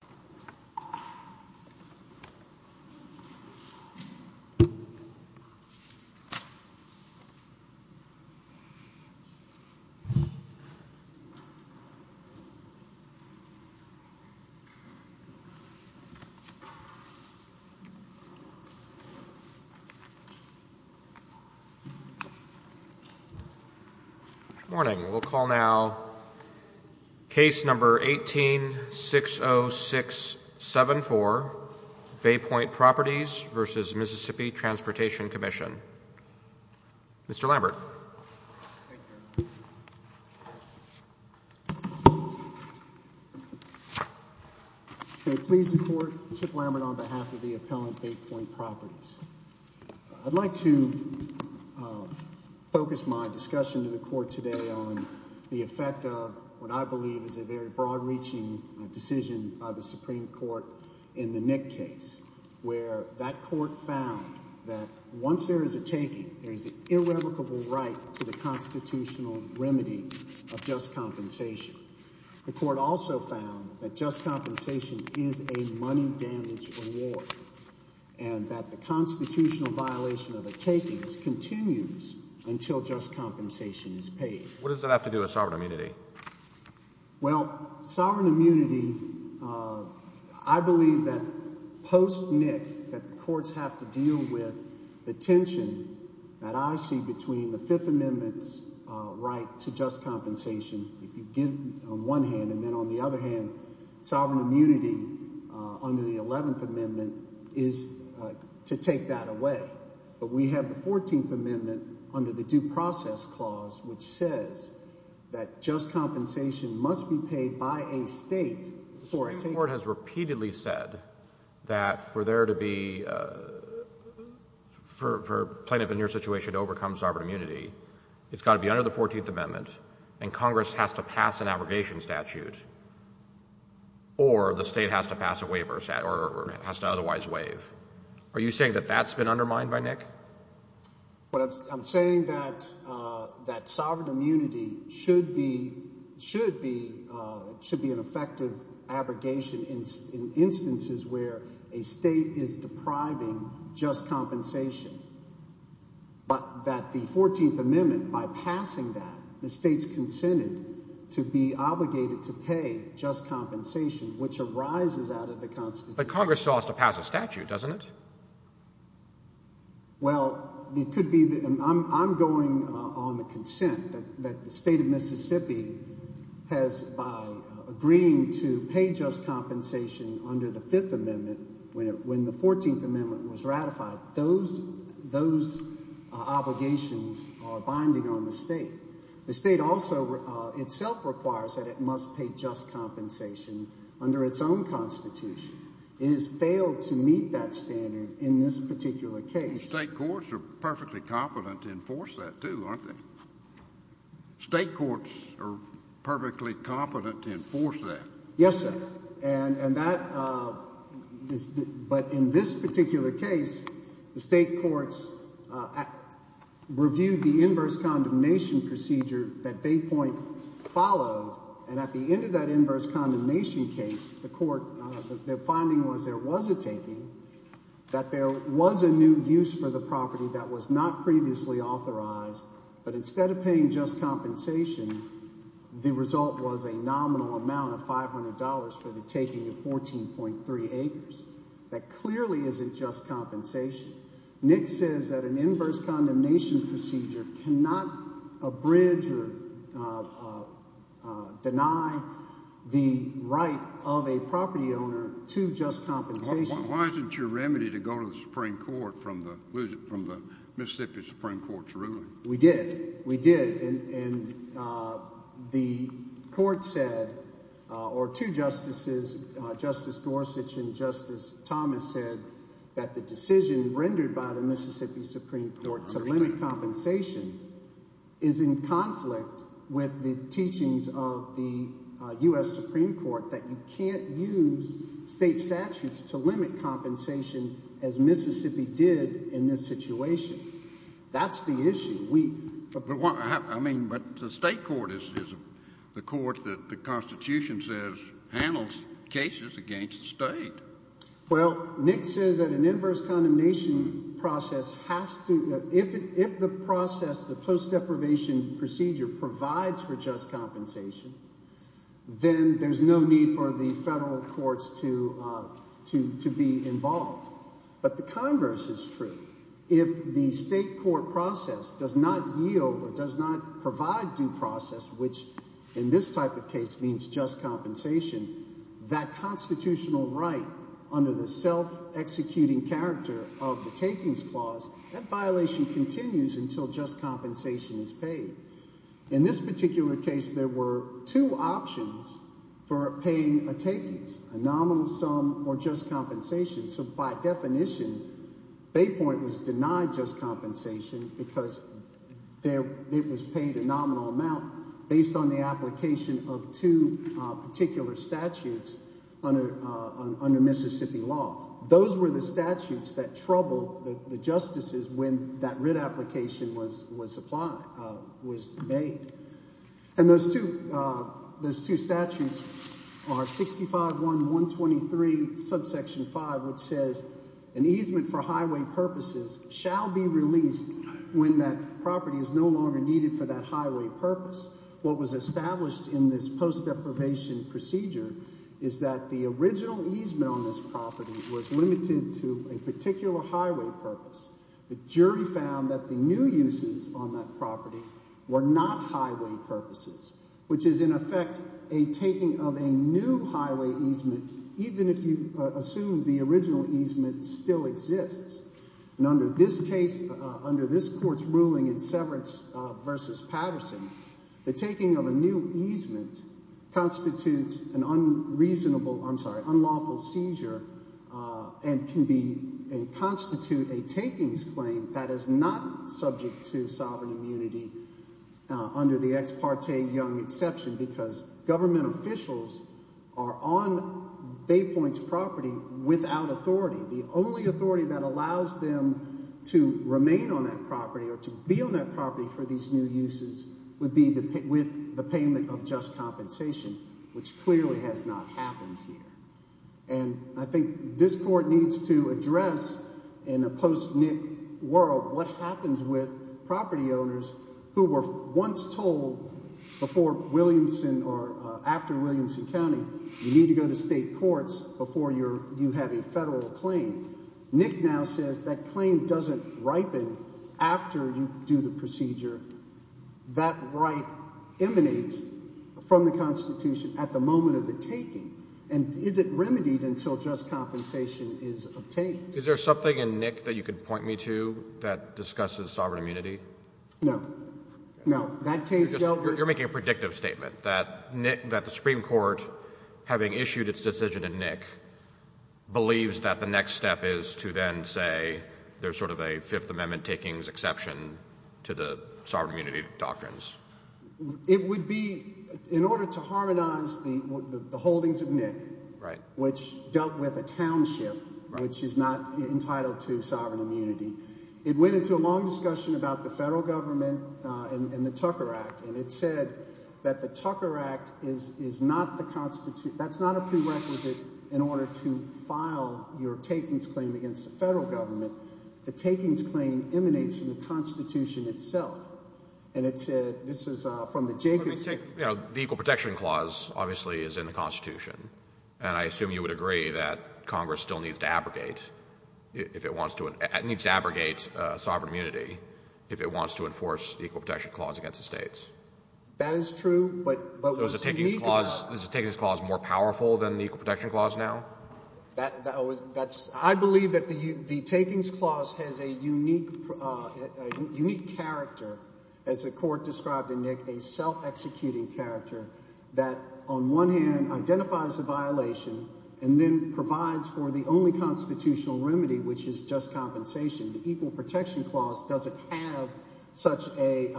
Coordinator, Judge Golomb, and Judge Bussard to speak tonight. I'd like to focus my discussion to the Court today on the effect of what I believe is a very broad-reaching decision by the Supreme Court in the Nick case, where that Court found that once there is a taking, there is an irrevocable right to the constitutional remedy of just compensation. The Court also found that just compensation is a money damage reward, and that the constitutional violation of a taking continues until just compensation is paid. What does that have to do with sovereign immunity? Well, sovereign immunity, I believe that post-Nick, that the courts have to deal with the tension that I see between the Fifth Amendment's right to just compensation, if you give on one hand, and then on the other hand, sovereign immunity under the Eleventh Amendment is to take that away. But we have the Fourteenth Amendment under the Due Process Clause, which says that just compensation must be paid by a state for a taking. The Supreme Court has repeatedly said that for there to be, for plaintiff in your situation to overcome sovereign immunity, it's got to be under the Fourteenth Amendment, and Congress has to pass an abrogation statute, or the state has to pass a waiver, or has to otherwise waive. Are you saying that that's been undermined by Nick? But I'm saying that sovereign immunity should be an effective abrogation in instances where a state is depriving just compensation, but that the Fourteenth Amendment, by passing that, the state's consented to be obligated to pay just compensation. Well, it could be, I'm going on the consent that the state of Mississippi has, by agreeing to pay just compensation under the Fifth Amendment, when the Fourteenth Amendment was ratified, those obligations are binding on the state. The state also itself requires that it must pay just compensation under the Fifth Amendment, and that's a standard in this particular case. State courts are perfectly competent to enforce that, too, aren't they? State courts are perfectly competent to enforce that. Yes, sir. And that, but in this particular case, the state courts reviewed the inverse condemnation procedure that Baypoint followed, and at the end of that inverse condemnation case, the court, their finding was there was a taking, that there was a new use for the property that was not previously authorized, but instead of paying just compensation, the result was a nominal amount of $500 for the taking of 14.3 acres. That clearly isn't just a bridge or deny the right of a property owner to just compensation. Why isn't your remedy to go to the Supreme Court from the Mississippi Supreme Court's ruling? We did. We did, and the court said, or two justices, Justice Gorsuch and Justice Thomas said that the decision rendered by the Mississippi Supreme Court to limit compensation is in conflict with the teachings of the U.S. Supreme Court that you can't use state statutes to limit compensation as Mississippi did in this situation. That's the issue. But the state court is the court that the Constitution says handles cases against the state. Well, Nick says that an inverse condemnation process has to, if the process, the post deprivation procedure provides for just compensation, then there's no need for the federal courts to be involved. But the converse is true. If the state court process does not yield or does not provide due process, which in this type of case means just compensation, that constitutional right under the self-executing character of the takings clause, that violation continues until just compensation is paid. In this particular case, there were two options for paying a takings, a nominal sum or just compensation. So by definition, Bay Point was denied just compensation because it was paid a nominal amount based on the application of two particular statutes under Mississippi law. Those were the statutes that troubled the justices when that writ application was applied, was made. And those two, those two statutes are 65-1-123 subsection 5, which says an easement for highway purposes shall be released when that property is no longer needed for that highway purpose. What was established in this post deprivation procedure is that the original easement on this property was limited to a particular highway purpose. The jury found that the new uses on that property were not highway purposes, which is in effect a taking of a new highway easement, even if you assume the original easement still exists. And under this case, under this court's ruling in Severance v. Patterson, the taking of a new easement constitutes an unreasonable, I'm sorry, unlawful seizure and can be, and constitute a takings claim that is not subject to sovereign immunity under the ex parte Young exception because government officials are on Bay Point's property without authority. The only authority that allows them to remain on that property or to be on that property for these new uses would be with the payment of just compensation, which clearly has not happened here. And I think this court needs to address in a post-NIC world what happens with property owners who were once told before Williamson or after Williamson County, you need to go to state courts before you have a federal claim. NIC now says that claim doesn't ripen after you do the procedure, that right emanates from the Constitution at the moment of the taking, and is it remedied until just compensation is obtained? Is there something in NIC that you could point me to that discusses sovereign immunity? No, no. You're making a predictive statement that the Supreme Court, having issued its decision in NIC, believes that the next step is to then say there's sort of a Fifth Amendment takings exception to the sovereign immunity doctrines. It would be in order to harmonize the holdings of NIC, which dealt with a township which is not entitled to sovereign immunity. It went into a long discussion about the federal government and the Tucker Act, and it said that the Tucker Act is not the Constitution, that's not a prerequisite in order to file your takings claim against the federal government. The takings claim emanates from the Constitution itself, and it said, this is from the Jacobs— The Equal Protection Clause, obviously, is in the Constitution, and I assume you would agree that Congress still needs to abrogate if it wants to—needs to abrogate sovereign immunity if it wants to enforce the Equal Protection Clause against the states? That is true, but what's unique about— So is the takings clause more powerful than the Equal Protection Clause now? That's—I believe that the takings clause has a unique character, as the Court described in NIC, a self-executing character that, on one hand, identifies the violation and then provides for the only constitutional remedy, which is just compensation. The Equal Protection Clause doesn't have such a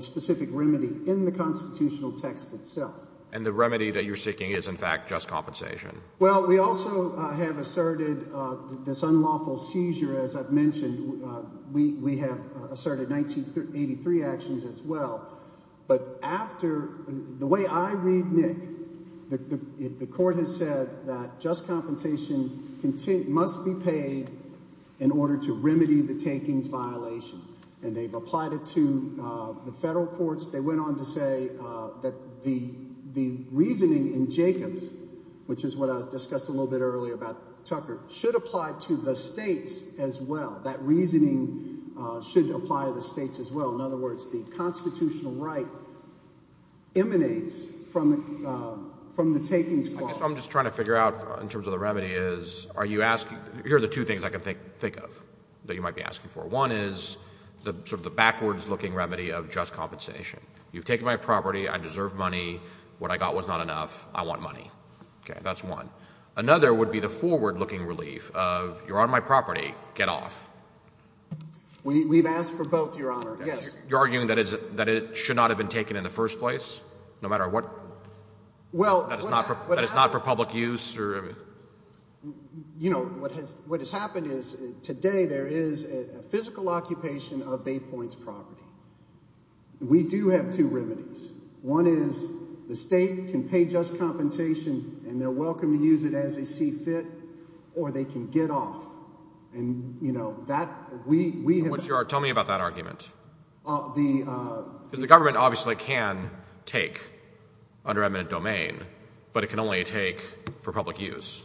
specific remedy in the constitutional text itself. And the remedy that you're seeking is, in fact, just compensation? Well, we also have asserted this unlawful seizure, as I've mentioned. We have asserted 1983 actions as well. But after—the way I read NIC, the Court has said that just compensation must be paid in order to remedy the takings violation. And they've applied it to the federal courts. They went on to say that the reasoning in Jacobs, which is what I discussed a little bit earlier about Tucker, should apply to the states as well. That reasoning should apply to the states as well. In other words, the constitutional right emanates from the takings clause. I guess what I'm just trying to figure out in terms of the remedy is, are you asking—here are the two things I can think of that you might be asking for. One is sort of the backwards-looking remedy of just compensation. You've taken my property. I deserve money. What I got was not enough. I want money. Okay. That's one. Another would be the forward-looking relief of, you're on my property. Get off. We've asked for both, Your Honor. Yes. You're arguing that it should not have been taken in the first place, no matter what? Well— That it's not for public use? You know, what has happened is, today there is a physical occupation of Baypoint's property. We do have two remedies. One is the state can pay just compensation, and they're welcome to use it as they see fit, or they can get off. And, you know, that— Tell me about that argument. The— Because the government obviously can take under eminent domain, but it can only take for public use.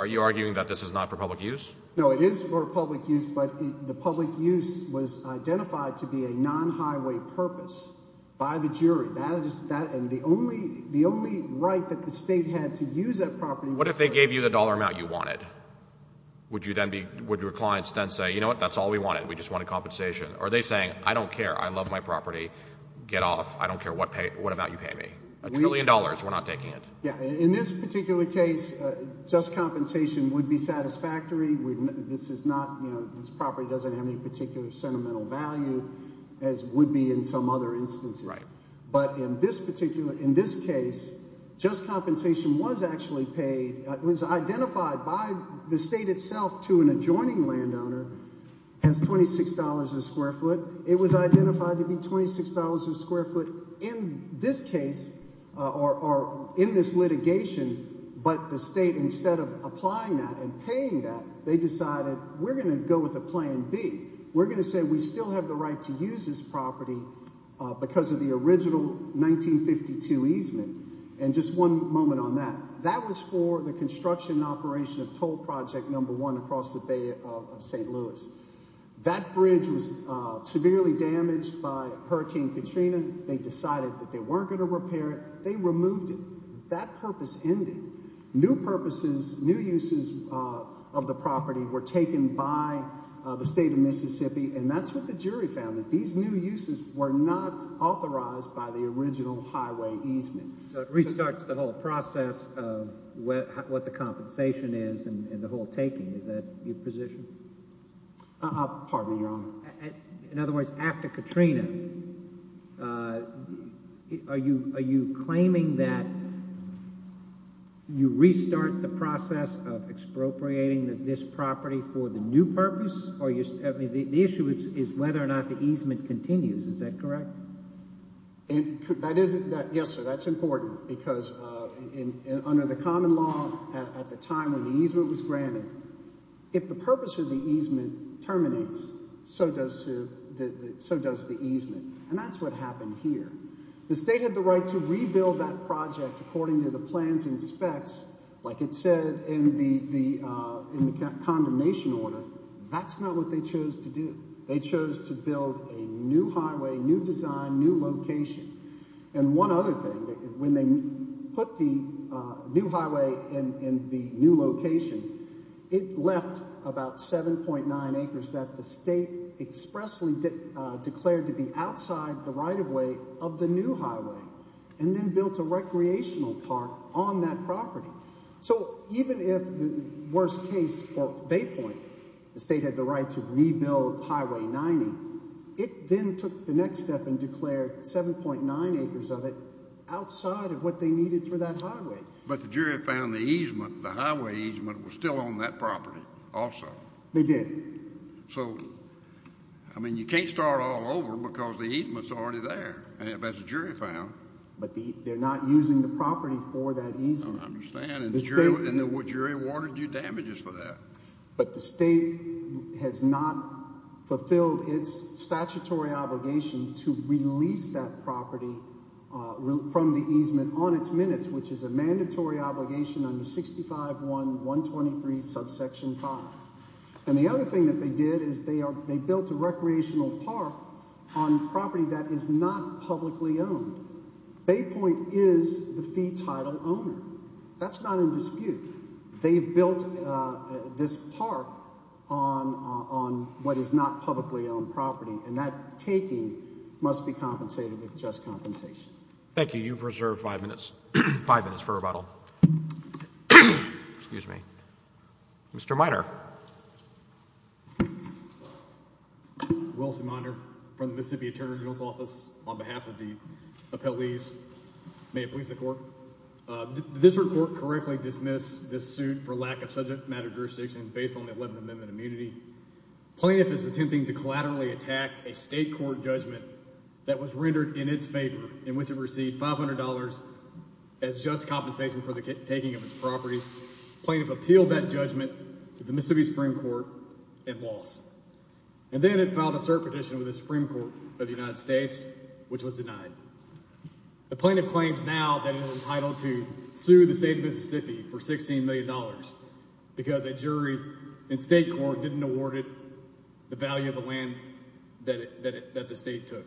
Are you arguing that this is not for public use? No, it is for public use, but the public use was identified to be a non-highway purpose by the jury. That is—and the only—the only right that the state had to use that property— What if they gave you the dollar amount you wanted? Would you then be—would your clients then say, you know what, that's all we wanted. We just wanted compensation. Or are they saying, I don't care. I love my property. Get off. I don't care what pay—what amount you pay me. A trillion dollars, we're not taking it. Yeah, in this particular case, just compensation would be satisfactory. This is not—you know, this property doesn't have any particular sentimental value, as would be in some other instances. Right. But in this particular—in this case, just compensation was actually paid—it was identified by the state itself to an adjoining landowner as $26 a square foot. It was identified to be $26 a square foot in this case or in this litigation, but the state, instead of applying that and paying that, they decided we're going to go with a Plan B. We're going to say we still have the right to use this property because of the original 1952 easement. And just one moment on that. That was for the construction and operation of Toll Project Number One across the Bay of St. Louis. That bridge was severely damaged by Hurricane Katrina. They decided that they weren't going to repair it. They removed it. That purpose ended. New purposes, new uses of the property were taken by the state of Mississippi, and that's what the jury found, that these new uses were not authorized by the original highway easement. Restarts the whole process of what the compensation is and the whole taking. Is that your position? Pardon me, Your Honor. In other words, after Katrina, are you claiming that you restart the process of expropriating this property for the new purpose? The issue is whether or not the easement continues. Is that correct? Yes, sir. That's important because under the common law at the time when the easement was granted, if the purpose of the easement terminates, so does the easement. And that's what happened here. The state had the right to rebuild that project according to the plans and specs, like it said in the condemnation order. That's not what they chose to do. They chose to build a new highway, new design, new location. And one other thing, when they put the new highway in the new location, it left about 7.9 acres that the state expressly declared to be outside the right-of-way of the new highway and then built a recreational park on that property. So even if the worst case, Bay Point, the state had the right to rebuild Highway 90, it then took the next step and declared 7.9 acres of it outside of what they needed for that highway. But the jury found the easement, the highway easement, was still on that property also. They did. So, I mean, you can't start all over because the easement's already there, as the jury found. But they're not using the property for that easement. I understand, and the jury warranted you damages for that. But the state has not fulfilled its statutory obligation to release that property from the easement on its minutes, which is a mandatory obligation under 65.1.123, subsection 5. And the other thing that they did is they built a recreational park on property that is not publicly owned. Bay Point is the fee title owner. That's not in dispute. They've built this park on what is not publicly owned property. And that taking must be compensated with just compensation. Thank you. You've reserved five minutes for rebuttal. Excuse me. Mr. Minor. I'm Wilson Minor from the Mississippi Attorney General's Office. On behalf of the appellees, may it please the court. This report correctly dismissed this suit for lack of subject matter jurisdiction based on the 11th Amendment immunity. Plaintiff is attempting to collaterally attack a state court judgment that was rendered in its favor, in which it received $500 as just compensation for the taking of its property. Plaintiff appealed that judgment to the Mississippi Supreme Court and lost. And then it filed a cert petition with the Supreme Court of the United States, which was denied. The plaintiff claims now that it was entitled to sue the state of Mississippi for $16 million because a jury in state court didn't award it the value of the land that the state took.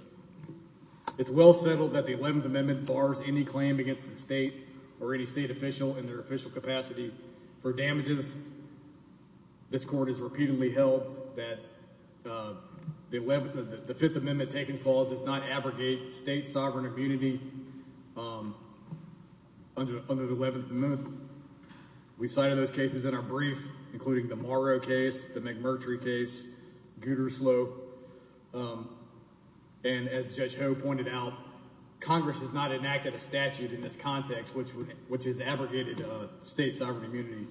It's well settled that the 11th Amendment bars any claim against the state or any state official in their official capacity for damages. This court has repeatedly held that the Fifth Amendment taking clause does not abrogate state sovereign immunity under the 11th Amendment. We cited those cases in our brief, including the Morrow case, the McMurtry case, Gutersloh. And as Judge Ho pointed out, Congress has not enacted a statute in this context which has abrogated state sovereign immunity.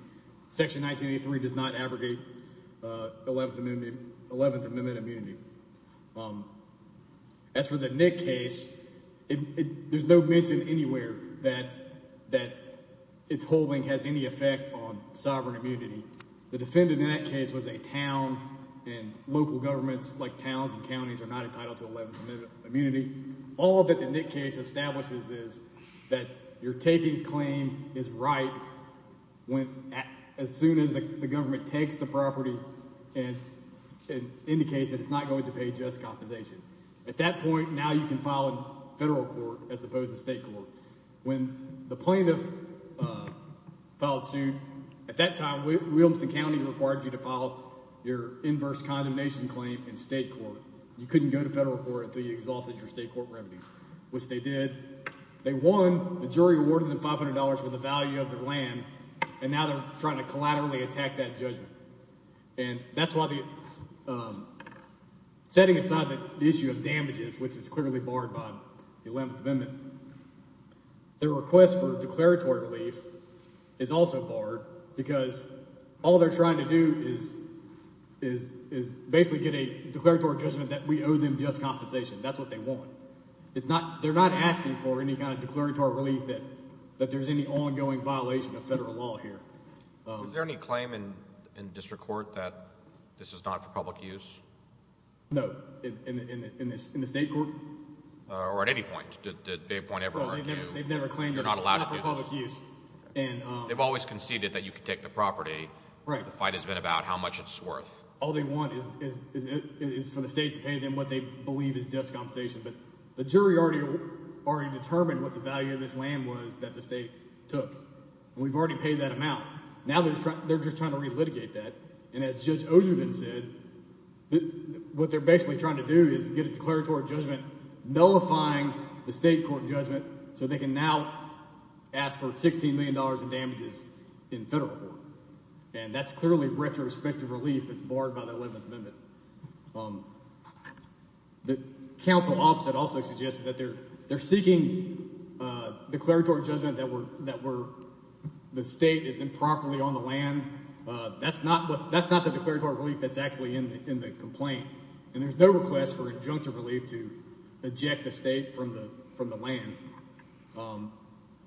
Section 1983 does not abrogate 11th Amendment immunity. As for the Nick case, there's no mention anywhere that its holding has any effect on sovereign immunity. The defendant in that case was a town, and local governments like towns and counties are not entitled to 11th Amendment immunity. All that the Nick case establishes is that your takings claim is right when as soon as the government takes the property and indicates that it's not going to pay just compensation. At that point, now you can file in federal court as opposed to state court. When the plaintiff filed suit, at that time, Williamson County required you to file your inverse condemnation claim in state court. You couldn't go to federal court until you exhausted your state court remedies, which they did. They won. The jury awarded them $500 for the value of their land, and now they're trying to collaterally attack that judgment. And that's why setting aside the issue of damages, which is clearly barred by the 11th Amendment, their request for declaratory relief is also barred because all they're trying to do is basically get a declaratory judgment that we owe them just compensation. That's what they want. They're not asking for any kind of declaratory relief that there's any ongoing violation of federal law here. Is there any claim in district court that this is not for public use? No, in the state court? Or at any point? Did they appoint everyone? No, they've never claimed they're not allowed to do this. It's not for public use. They've always conceded that you can take the property. Right. The fight has been about how much it's worth. All they want is for the state to pay them what they believe is just compensation. But the jury already determined what the value of this land was that the state took, and we've already paid that amount. Now they're just trying to re-litigate that. And as Judge Osherman said, what they're basically trying to do is get a declaratory judgment nullifying the state court judgment so they can now ask for $16 million in damages in federal court. And that's clearly retrospective relief that's barred by the 11th Amendment. The counsel opposite also suggested that they're seeking a declaratory judgment that the state is improperly on the land. That's not the declaratory relief that's actually in the complaint. And there's no request for injunctive relief to eject the state from the land.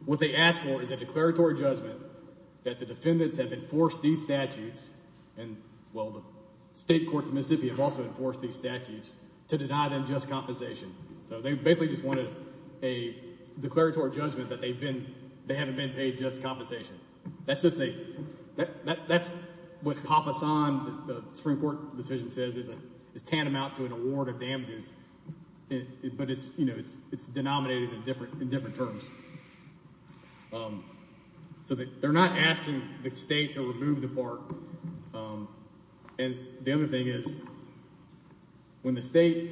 What they asked for is a declaratory judgment that the defendants have enforced these statutes, and, well, the state courts in Mississippi have also enforced these statutes, to deny them just compensation. So they basically just wanted a declaratory judgment that they haven't been paid just compensation. That's what Papa San, the Supreme Court decision says, is tantamount to an award of damages, but it's denominated in different terms. So they're not asking the state to remove the park. And the other thing is, when the state,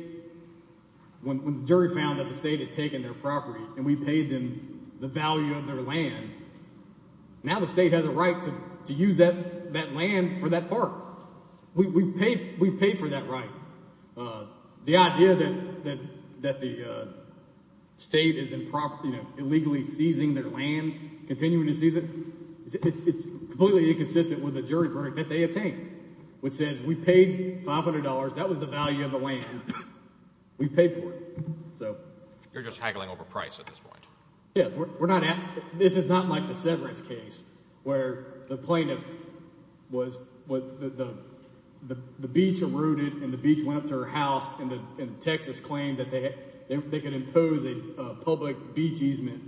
when the jury found that the state had taken their property and we paid them the value of their land, now the state has a right to use that land for that park. We paid for that right. The idea that the state is improper, illegally seizing their land, continuing to seize it, it's completely inconsistent with the jury verdict that they obtained, which says we paid $500. That was the value of the land. We paid for it. You're just haggling over price at this point. Yes, we're not at, this is not like the severance case, where the plaintiff was, the beach eroded and the beach went up to her house, and Texas claimed that they could impose a public beach easement,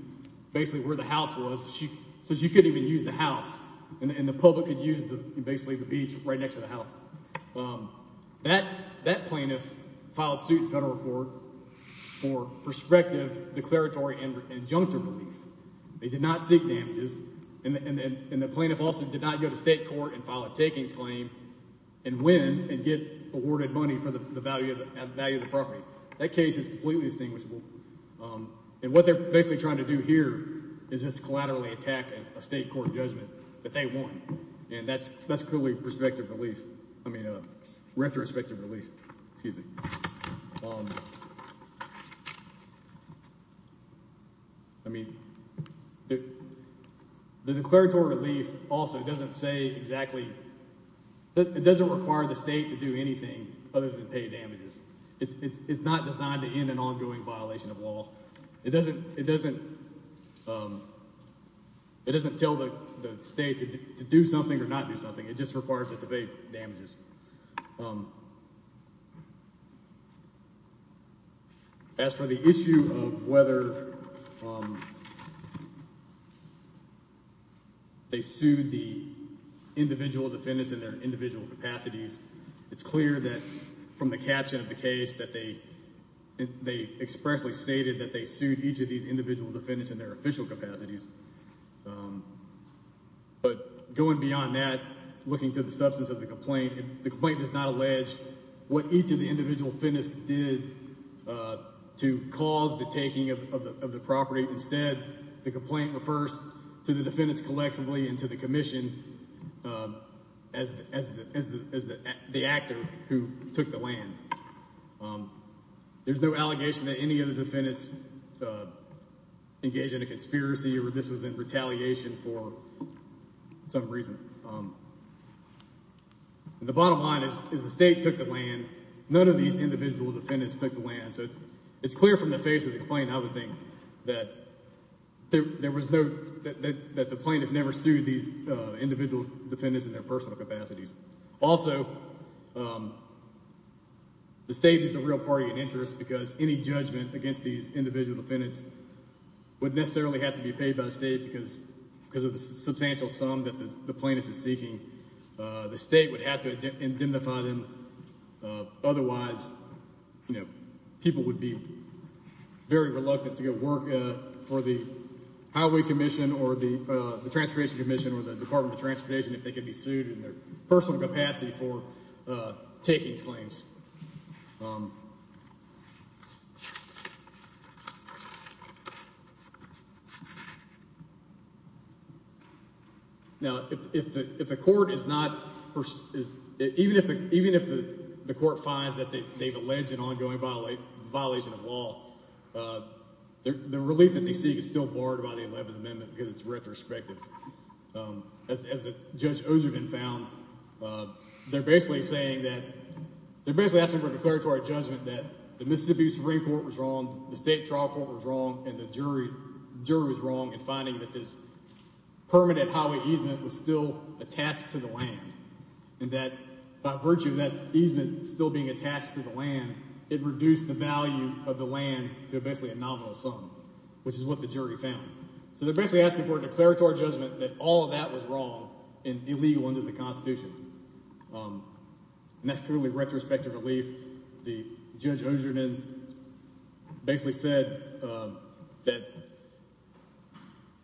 basically where the house was, so she couldn't even use the house, and the public could use basically the beach right next to the house. That plaintiff filed suit in federal court for prospective declaratory injunctive relief. They did not seek damages. And the plaintiff also did not go to state court and file a takings claim and win and get awarded money for the value of the property. That case is completely distinguishable. And what they're basically trying to do here is just collaterally attack a state court judgment that they won. And that's clearly prospective relief. I mean, retrospective relief. Excuse me. I mean, the declaratory relief also doesn't say exactly, but it doesn't require the state to do anything other than pay damages. It's not designed to end an ongoing violation of law. It doesn't tell the state to do something or not do something. It just requires it to pay damages. As for the issue of whether they sued the individual defendants in their individual capacities, it's clear that from the caption of the case that they expressly stated that they sued each of these individual defendants in their official capacities. But going beyond that, looking to the substance of the complaint, the complaint does not allege what each of the individual defendants did to cause the taking of the property. Instead, the complaint refers to the defendants collectively and to the commission as the actor who took the land. There's no allegation that any of the defendants engaged in a conspiracy or this was in retaliation for some reason. And the bottom line is the state took the land. None of these individual defendants took the land. So it's clear from the face of the complaint, I would think, that the plaintiff never sued these individual defendants in their personal capacities. Also, the state is the real party of interest because any judgment against these individual defendants would necessarily have to be paid by the state because of the substantial sum that the plaintiff is seeking. The state would have to indemnify them. Otherwise, people would be very reluctant to go work for the Highway Commission or the Transportation Commission or the Department of Transportation if they could be sued in their personal capacity for taking claims. Now, if the court is not, even if the court finds that they've alleged an ongoing violation of law, the relief that they seek is still borrowed by the 11th Amendment because it's retrospective. As Judge Ozervan found, they're basically asking for a declaratory judgment that the Mississippi Supreme Court was wrong, the state trial court was wrong, and the jury was wrong in finding that this permanent highway easement was still attached to the land, and that by virtue of that easement still being attached to the land, it reduced the value of the land to basically a nominal sum, which is what the jury found. So they're basically asking for a declaratory judgment that all of that was wrong and illegal under the Constitution, and that's clearly retrospective relief. Judge Ozervan basically said that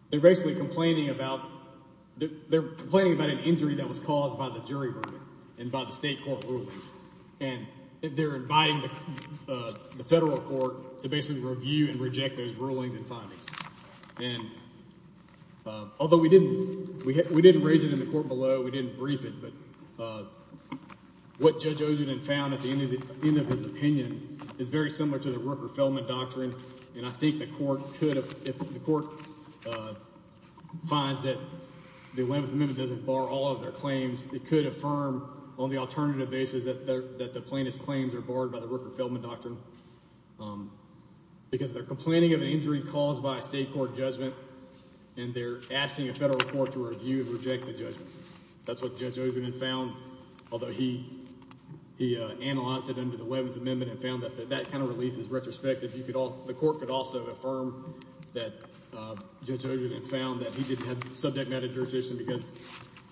they're basically complaining about an injury that was caused by the jury verdict and by the state court rulings, and they're inviting the federal court to basically review and reject those rulings and findings. Although we didn't raise it in the court below, we didn't brief it, but what Judge Ozervan found at the end of his opinion is very similar to the Rooker-Feldman Doctrine, and I think the court could, if the court finds that the 11th Amendment doesn't bar all of their claims, it could affirm on the alternative basis that the plaintiff's claims are barred by the Rooker-Feldman Doctrine because they're complaining of an injury caused by a state court judgment, and they're asking a federal court to review and reject the judgment. That's what Judge Ozervan found, although he analyzed it under the 11th Amendment and found that that kind of relief is retrospective. The court could also affirm that Judge Ozervan found that he didn't have subject matter jurisdiction because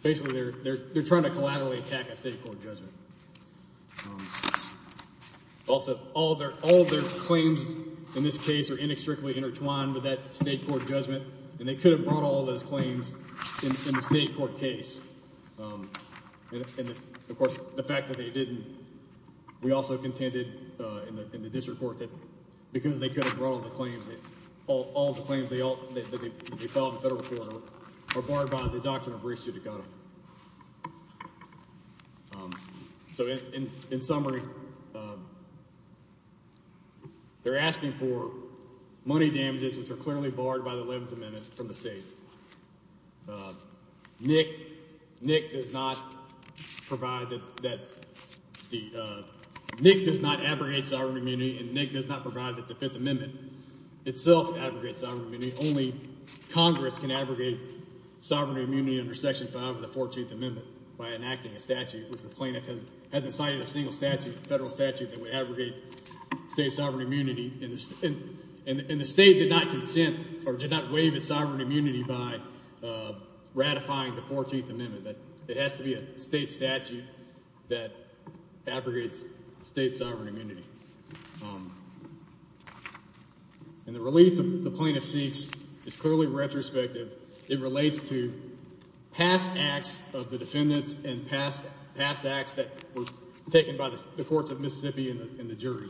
basically they're trying to collaterally attack a state court judgment. Also, all of their claims in this case are inextricably intertwined with that state court judgment, and they could have brought all those claims in the state court case. Of course, the fact that they didn't, we also contended in the district court that because they could have brought all the claims that they filed in the federal court are barred by the Doctrine of Recidivism. So in summary, they're asking for money damages which are clearly barred by the 11th Amendment from the state. Nick does not abrogate sovereign immunity, and Nick does not provide that the 5th Amendment itself abrogates sovereign immunity. Only Congress can abrogate sovereign immunity under Section 5 of the 14th Amendment by enacting a statute, which the plaintiff has incited a single federal statute that would abrogate state sovereign immunity, and the state did not abrogate sovereign immunity by ratifying the 14th Amendment. It has to be a state statute that abrogates state sovereign immunity. And the relief the plaintiff seeks is clearly retrospective. It relates to past acts of the defendants and past acts that were taken by the courts of Mississippi and the jury.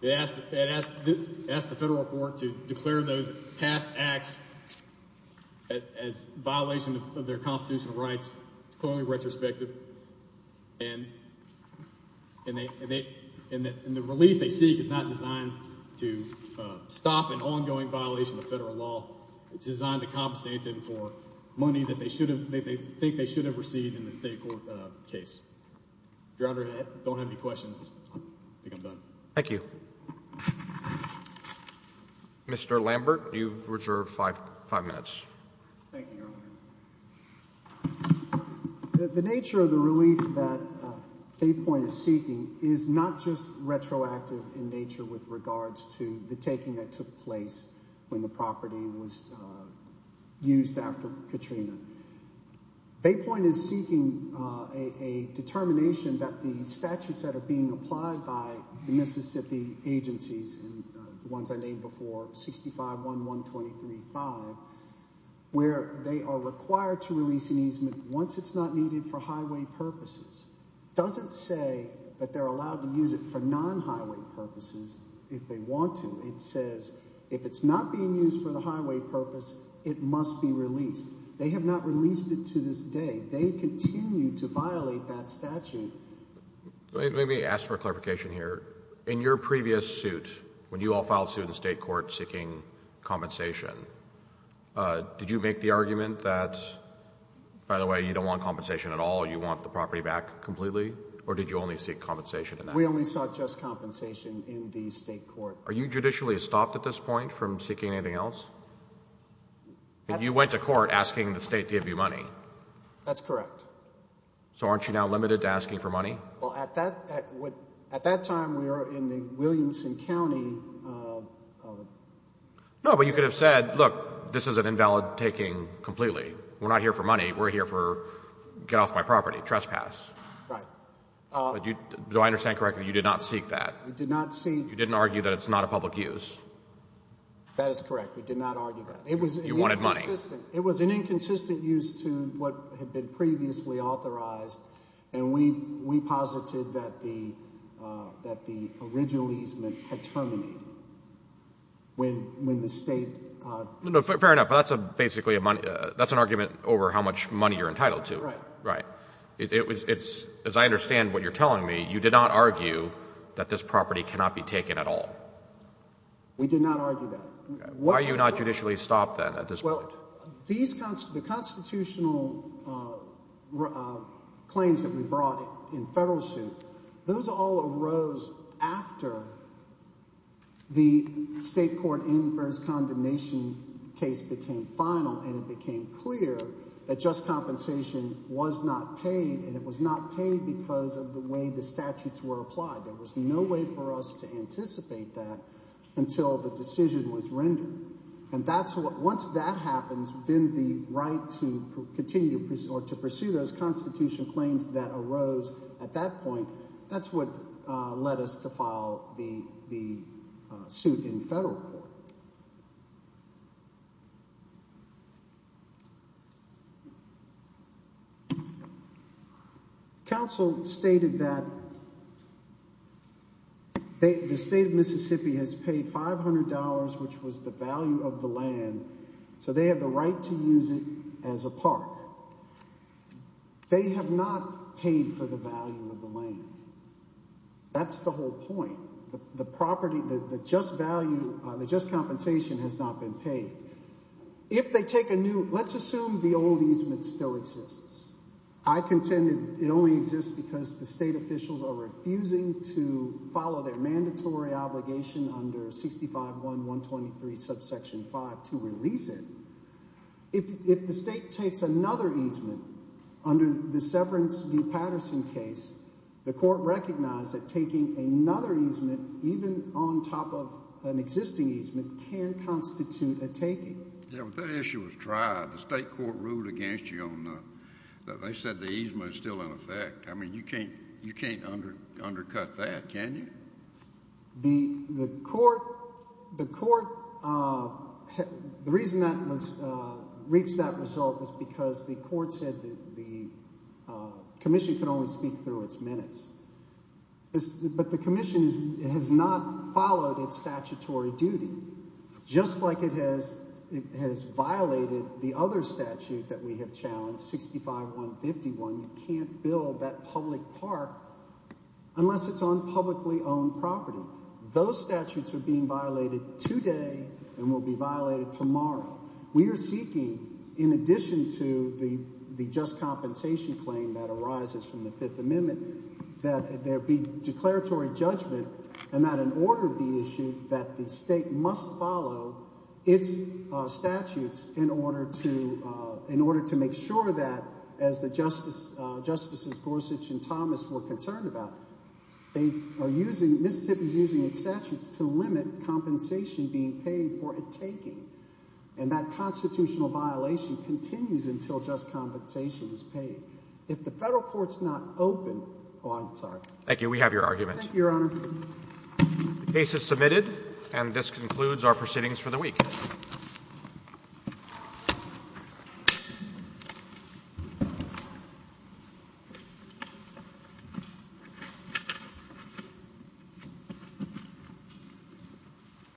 They asked the federal court to declare those past acts as violation of their constitutional rights. It's clearly retrospective, and the relief they seek is not designed to stop an ongoing violation of federal law. It's designed to compensate them for money that they think they should have received in the state court case. If your honor don't have any questions. Thank you. Mr. Lambert, you've reserved five minutes. The nature of the relief that Baypoint is seeking is not just retroactive in nature with regards to the taking that took place when the property was used after Katrina. Baypoint is seeking a determination that the statutes that are being applied by the Mississippi agencies, and the ones I named before 65-1-1-23-5, where they are required to release an easement once it's not needed for highway purposes, doesn't say that they're allowed to use it for non-highway purposes if they want to. It says if it's not being used for the highway purpose, it must be to violate that statute. Let me ask for clarification here. In your previous suit, when you all filed suit in state court seeking compensation, did you make the argument that, by the way, you don't want compensation at all, you want the property back completely, or did you only seek compensation in that case? We only sought just compensation in the state court. Are you judicially stopped at this point from seeking anything else? And you went to court asking the state to give you money? That's correct. So aren't you now limited to asking for money? Well, at that time, we were in the Williamson County... No, but you could have said, look, this is an invalid taking completely. We're not here for money. We're here for, get off my property, trespass. Right. Do I understand correctly, you did not seek that? We did not seek... You didn't argue that it's not a public use? That is correct. We did not argue that. You wanted money. It was an inconsistent use to what had been previously authorized, and we posited that the original easement had terminated when the state... No, fair enough, but that's basically an argument over how much money you're entitled to. Right. Right. As I understand what you're telling me, you did not argue that this property cannot be taken at all? We did not argue that. Why are you not judicially stopped then at this point? Well, the constitutional claims that we brought in federal suit, those all arose after the state court inverse condemnation case became final, and it became clear that just compensation was not paid, and it was not paid because of the way the statutes were applied. There was no way for us to anticipate that until the decision was rendered, and once that happens, then the right to continue or to pursue those constitutional claims that arose at that point, that's what led us to file the suit in federal court. Okay. Counsel stated that the state of Mississippi has paid $500, which was the value of the land, so they have the right to use it as a park. They have not paid for the value of the land. That's the whole point. The property, the just value, the just compensation has not been paid. If they take a new, let's assume the old easement still exists. I contend it only exists because the state officials are refusing to follow their mandatory obligation under 65.1.123 subsection 5 to release it. If the state takes another easement under the Severance v. Patterson case, the court recognized that taking another easement even on top of an existing easement can constitute a taking. Yeah, but that issue was tried. The state court ruled against you on that. They said the easement is still in effect. I mean, you can't undercut that, can you? The court, the reason that reached that result was because the court said that the commission could only speak through its minutes. But the commission has not followed its statutory duty, just like it has violated the other statute that we have challenged, 65.151. You can't build that public park unless it's on publicly owned property. Those statutes are being violated today and will be seeking, in addition to the just compensation claim that arises from the Fifth Amendment, that there be declaratory judgment and that an order be issued that the state must follow its statutes in order to make sure that, as the Justices Gorsuch and Thomas were concerned about, they are using, Mississippi is using its statutes to limit compensation being paid for a taking. And that constitutional violation continues until just compensation is paid. If the federal court's not open, oh, I'm sorry. Thank you. We have your argument. Thank you, Your Honor. The case is submitted and this concludes our proceedings for the week.